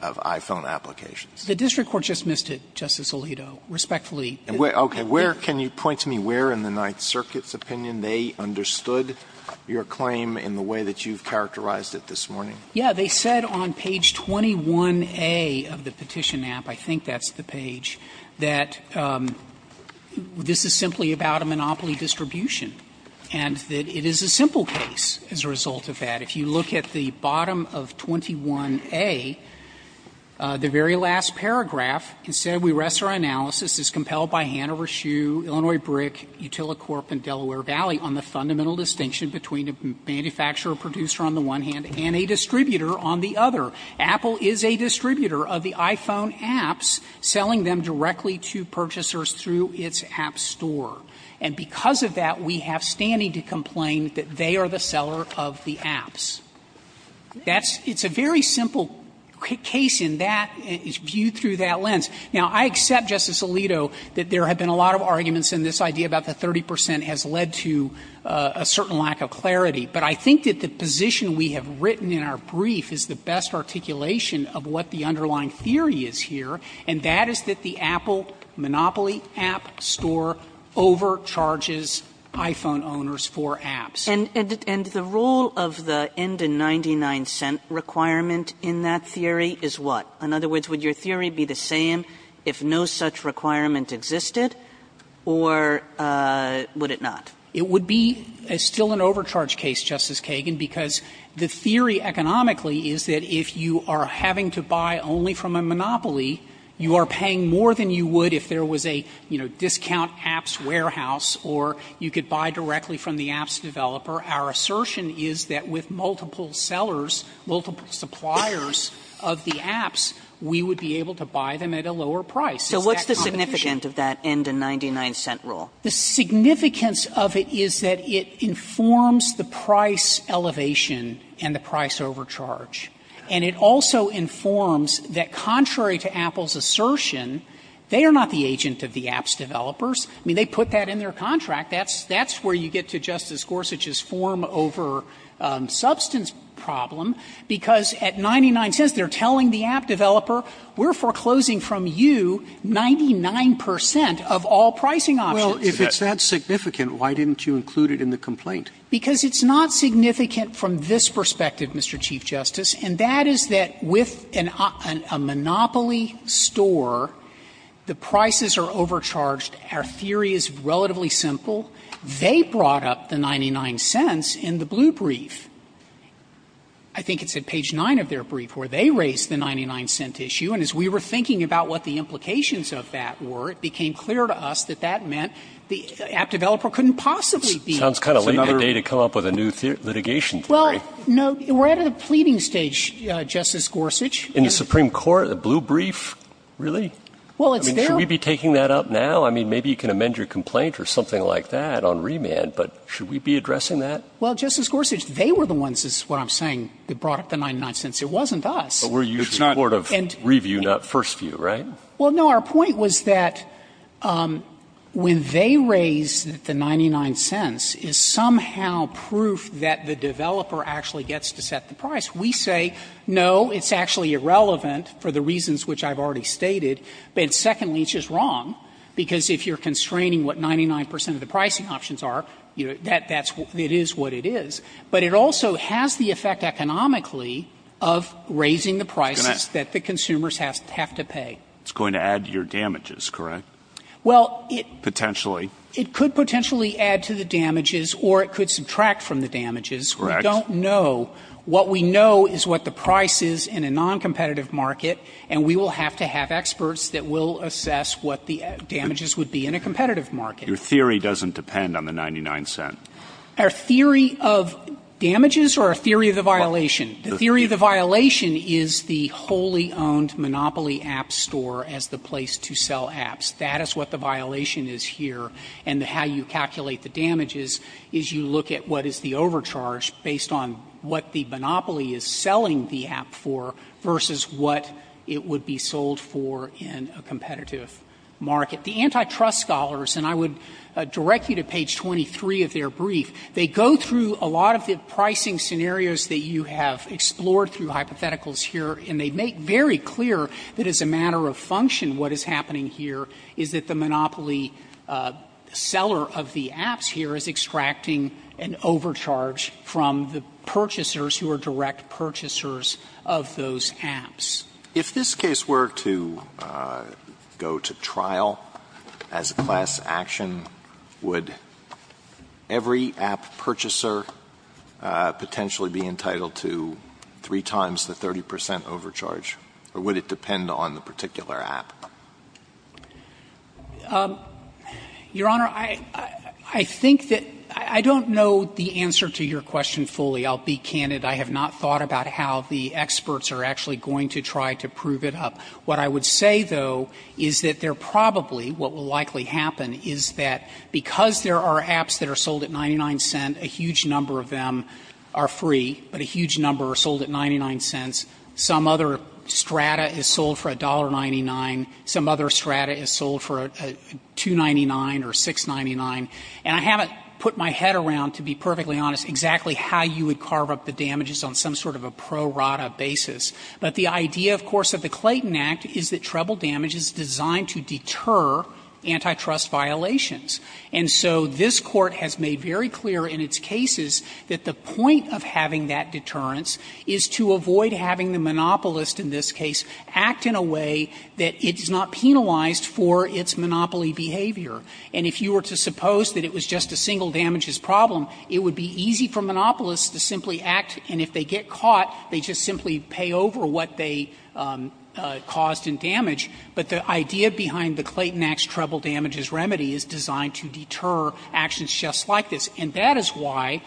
of iPhone applications. So the district court just missed it, Justice Alito, respectfully. And where – okay, where can you point to me where in the Ninth Circuit's opinion they understood your claim in the way that you've characterized it this morning? Yeah, they said on page 21A of the petition app, I think that's the page, that this is simply about a monopoly distribution, and that it is a simple case as a result of that. If you look at the bottom of 21A, the very last paragraph, And because of that, we have standing to complain that they are the seller of the apps. That's – it's a very simple case in that – it's viewed through that lens. Now, I accept, Justice Alito, that there have been a lot of arguments, and this idea about the 30 percent has led to a certain lack of clarity, but I think that the position we have written in our brief is the best articulation of what the underlying theory is here, and that is that the Apple monopoly app store overcharges iPhone owners for apps. And the role of the end in 99 cent requirement in that theory is what? In other words, would your theory be the same if no such requirement existed, or would it not? It would be still an overcharge case, Justice Kagan, because the theory economically is that if you are having to buy only from a monopoly, you are paying more than you would if there was a, you know, discount apps warehouse, or you could buy directly from the apps developer. Our assertion is that with multiple sellers, multiple suppliers of the apps, we would be able to buy them at a lower price. Is that competition? So what's the significance of that end in 99 cent rule? The significance of it is that it informs the price elevation and the price overcharge. And it also informs that contrary to Apple's assertion, they are not the agent of the apps developers. I mean, they put that in their contract. That's where you get to Justice Gorsuch's form over substance problem, because at 99 cents they are telling the app developer, we are foreclosing from you 99 percent of all pricing options. Robertson, Well, if it's that significant, why didn't you include it in the complaint? Frederick, Because it's not significant from this perspective, Mr. Chief Justice, and that is that with a monopoly store, the prices are overcharged. Our theory is relatively simple. They brought up the 99 cents in the blue brief. I think it's at page 9 of their brief where they raised the 99 cent issue. And as we were thinking about what the implications of that were, it became clear to us that that meant the app developer couldn't possibly be. Breyer, It sounds kind of late in the day to come up with a new litigation theory. Frederick, Well, no, we're at a pleading stage, Justice Gorsuch. Breyer, In the Supreme Court, the blue brief? Really? Frederick, Well, it's their – Breyer, I mean, should we be taking that up now? I mean, maybe you can amend your complaint or something like that on remand, but should we be addressing that? Frederick, Well, Justice Gorsuch, they were the ones, this is what I'm saying, that brought up the 99 cents. It wasn't us. Breyer, But we're usually court of review, not first view, right? Frederick, Well, no, our point was that when they raised the 99 cents is somehow proof that the developer actually gets to set the price. We say, no, it's actually irrelevant for the reasons which I've already stated. But secondly, it's just wrong, because if you're constraining what 99 percent of the pricing options are, that's what it is. But it also has the effect economically of raising the prices that the consumers have to pay. Breyer, It's going to add to your damages, correct? Potentially. Frederick, Well, it could potentially add to the damages or it could subtract from the damages. Breyer, Correct. Frederick, We don't know. What we know is what the price is in a noncompetitive market, and we will have to have experts that will assess what the damages would be in a competitive market. Breyer, Your theory doesn't depend on the 99 cents. Frederick, Our theory of damages or our theory of the violation? The theory of the violation is the wholly owned Monopoly app store as the place to sell apps. That is what the violation is here. And how you calculate the damages is you look at what is the overcharge based on what the Monopoly is selling the app for versus what it would be sold for in a competitive market. The antitrust scholars, and I would direct you to page 23 of their brief, they go through a lot of the pricing scenarios that you have explored through hypotheticals here, and they make very clear that as a matter of function what is happening here is that the Monopoly seller of the apps here is extracting an overcharge from the purchasers who are direct purchasers of those apps. Alito, If this case were to go to trial as a class action, would every app purchaser potentially be entitled to three times the 30 percent overcharge, or would it depend on the particular app? Frederick, Your Honor, I think that – I don't know the answer to your question fully. I'll be candid. I have not thought about how the experts are actually going to try to prove it up. What I would say, though, is that there probably, what will likely happen, is that because there are apps that are sold at 99 cents, a huge number of them are free, but a huge number are sold at 99 cents. Some other strata is sold for $1.99, some other strata is sold for $2.99 or $6.99. And I haven't put my head around, to be perfectly honest, exactly how you would carve up the damages on some sort of a pro-rata basis. But the idea, of course, of the Clayton Act is that treble damage is designed to deter antitrust violations. And so this Court has made very clear in its cases that the point of having that monopolist in this case act in a way that it is not penalized for its monopoly behavior. And if you were to suppose that it was just a single damages problem, it would be easy for monopolists to simply act, and if they get caught, they just simply pay over what they caused in damage. But the idea behind the Clayton Act's treble damages remedy is designed to deter actions just like this. And that is why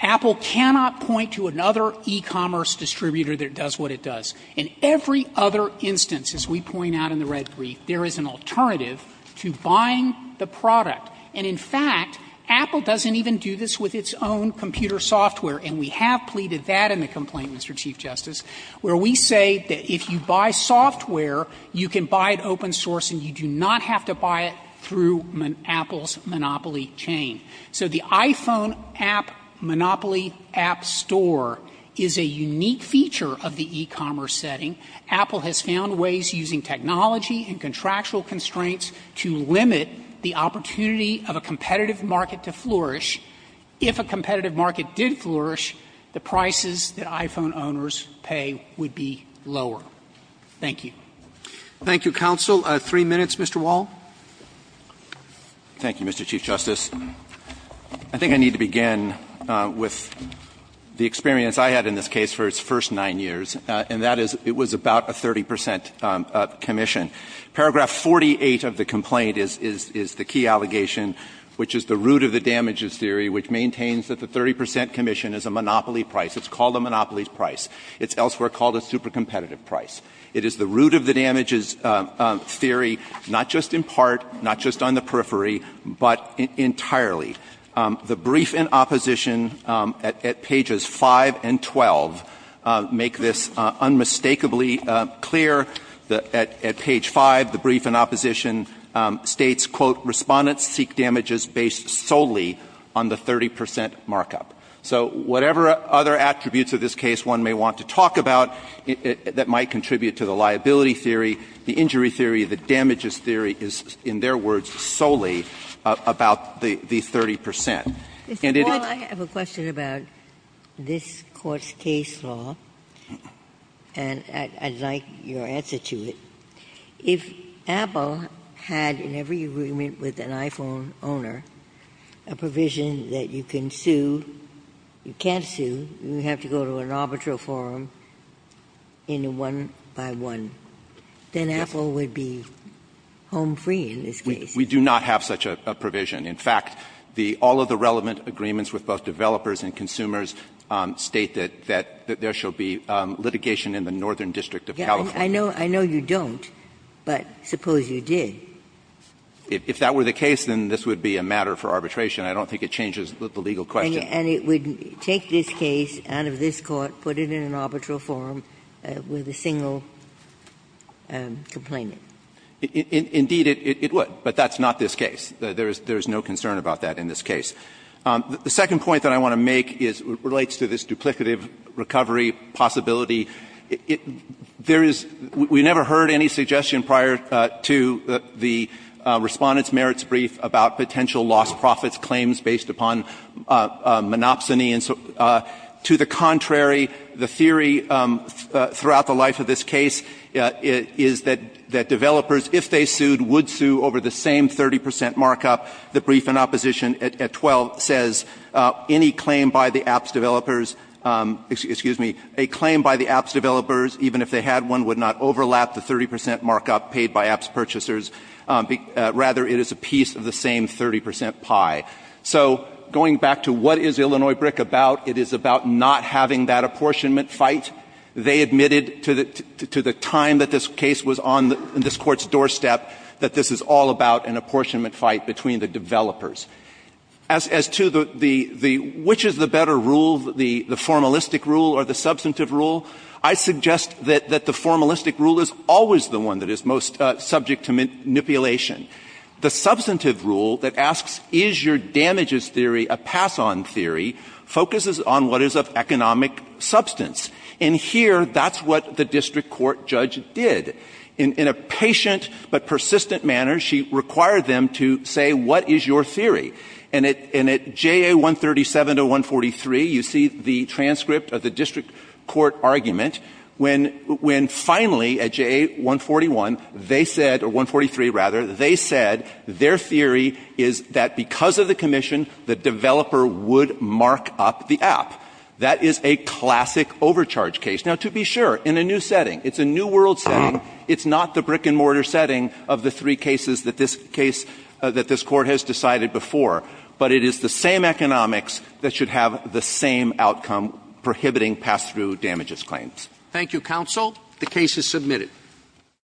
Apple cannot point to another e-commerce distributor that does what it does. In every other instance, as we point out in the red brief, there is an alternative to buying the product. And in fact, Apple doesn't even do this with its own computer software, and we have pleaded that in the complaint, Mr. Chief Justice, where we say that if you buy software, you can buy it open source and you do not have to buy it through Apple's monopoly chain. So the iPhone app monopoly app store is a unique feature of the e-commerce setting. Apple has found ways, using technology and contractual constraints, to limit the opportunity of a competitive market to flourish. If a competitive market did flourish, the prices that iPhone owners pay would be lower. Thank you. Roberts. Thank you, counsel. Three minutes, Mr. Wall. Wall, thank you, Mr. Chief Justice. I think I need to begin with the experience I had in this case for its first nine years, and that is it was about a 30 percent commission. Paragraph 48 of the complaint is the key allegation, which is the root of the damages theory, which maintains that the 30 percent commission is a monopoly price. It's called a monopoly price. It's elsewhere called a super competitive price. It is the root of the damages theory, not just in part, not just on the periphery, but entirely. The brief in opposition at pages 5 and 12 make this unmistakably clear. At page 5, the brief in opposition states, quote, Respondents seek damages based solely on the 30 percent markup. So whatever other attributes of this case one may want to talk about that might contribute to the liability theory, the injury theory, the damages theory is, in their words, solely about the 30 percent. And it is the root of the damages theory. Ginsburg. Mr. Wall, I have a question about this Court's case law, and I'd like your answer to it. If Apple had, in every agreement with an iPhone owner, a provision that you can sue or can't sue, you have to go to an arbitral forum in a one-by-one, then Apple would be home free in this case. We do not have such a provision. In fact, all of the relevant agreements with both developers and consumers state that there shall be litigation in the Northern District of California. I know you don't, but suppose you did. If that were the case, then this would be a matter for arbitration. I don't think it changes the legal question. And it would take this case out of this Court, put it in an arbitral forum with a single complainant. Indeed, it would, but that's not this case. There is no concern about that in this case. The second point that I want to make relates to this duplicative recovery possibility. There is we never heard any suggestion prior to the Respondent's Merits Brief about potential lost profits claims based upon monopsony. To the contrary, the theory throughout the life of this case is that developers, if they sued, would sue over the same 30 percent markup. The brief in opposition at 12 says, any claim by the apps developers, excuse me, a claim by the apps developers, even if they had one, would not overlap the 30 percent markup paid by apps purchasers, rather it is a piece of the same 30 percent pie. So going back to what is Illinois BRIC about, it is about not having that apportionment fight. They admitted to the time that this case was on this Court's doorstep that this is all about an apportionment fight between the developers. As to the which is the better rule, the formalistic rule or the substantive rule, I suggest that the formalistic rule is always the one that is most subject to manipulation. The substantive rule that asks is your damages theory a pass-on theory focuses on what is of economic substance. And here, that's what the district court judge did. In a patient but persistent manner, she required them to say what is your theory. And at JA 137 to 143, you see the transcript of the district court argument when finally at JA 141, they said, or 143 rather, they said their theory is that because of the commission, the developer would mark up the app. That is a classic overcharge case. Now, to be sure, in a new setting, it's a new world setting, it's not the brick-and-mortar setting of the three cases that this case, that this Court has decided before, but it is the same economics that should have the same outcome prohibiting pass-through damages claims. Thank you, Counsel. The case is submitted.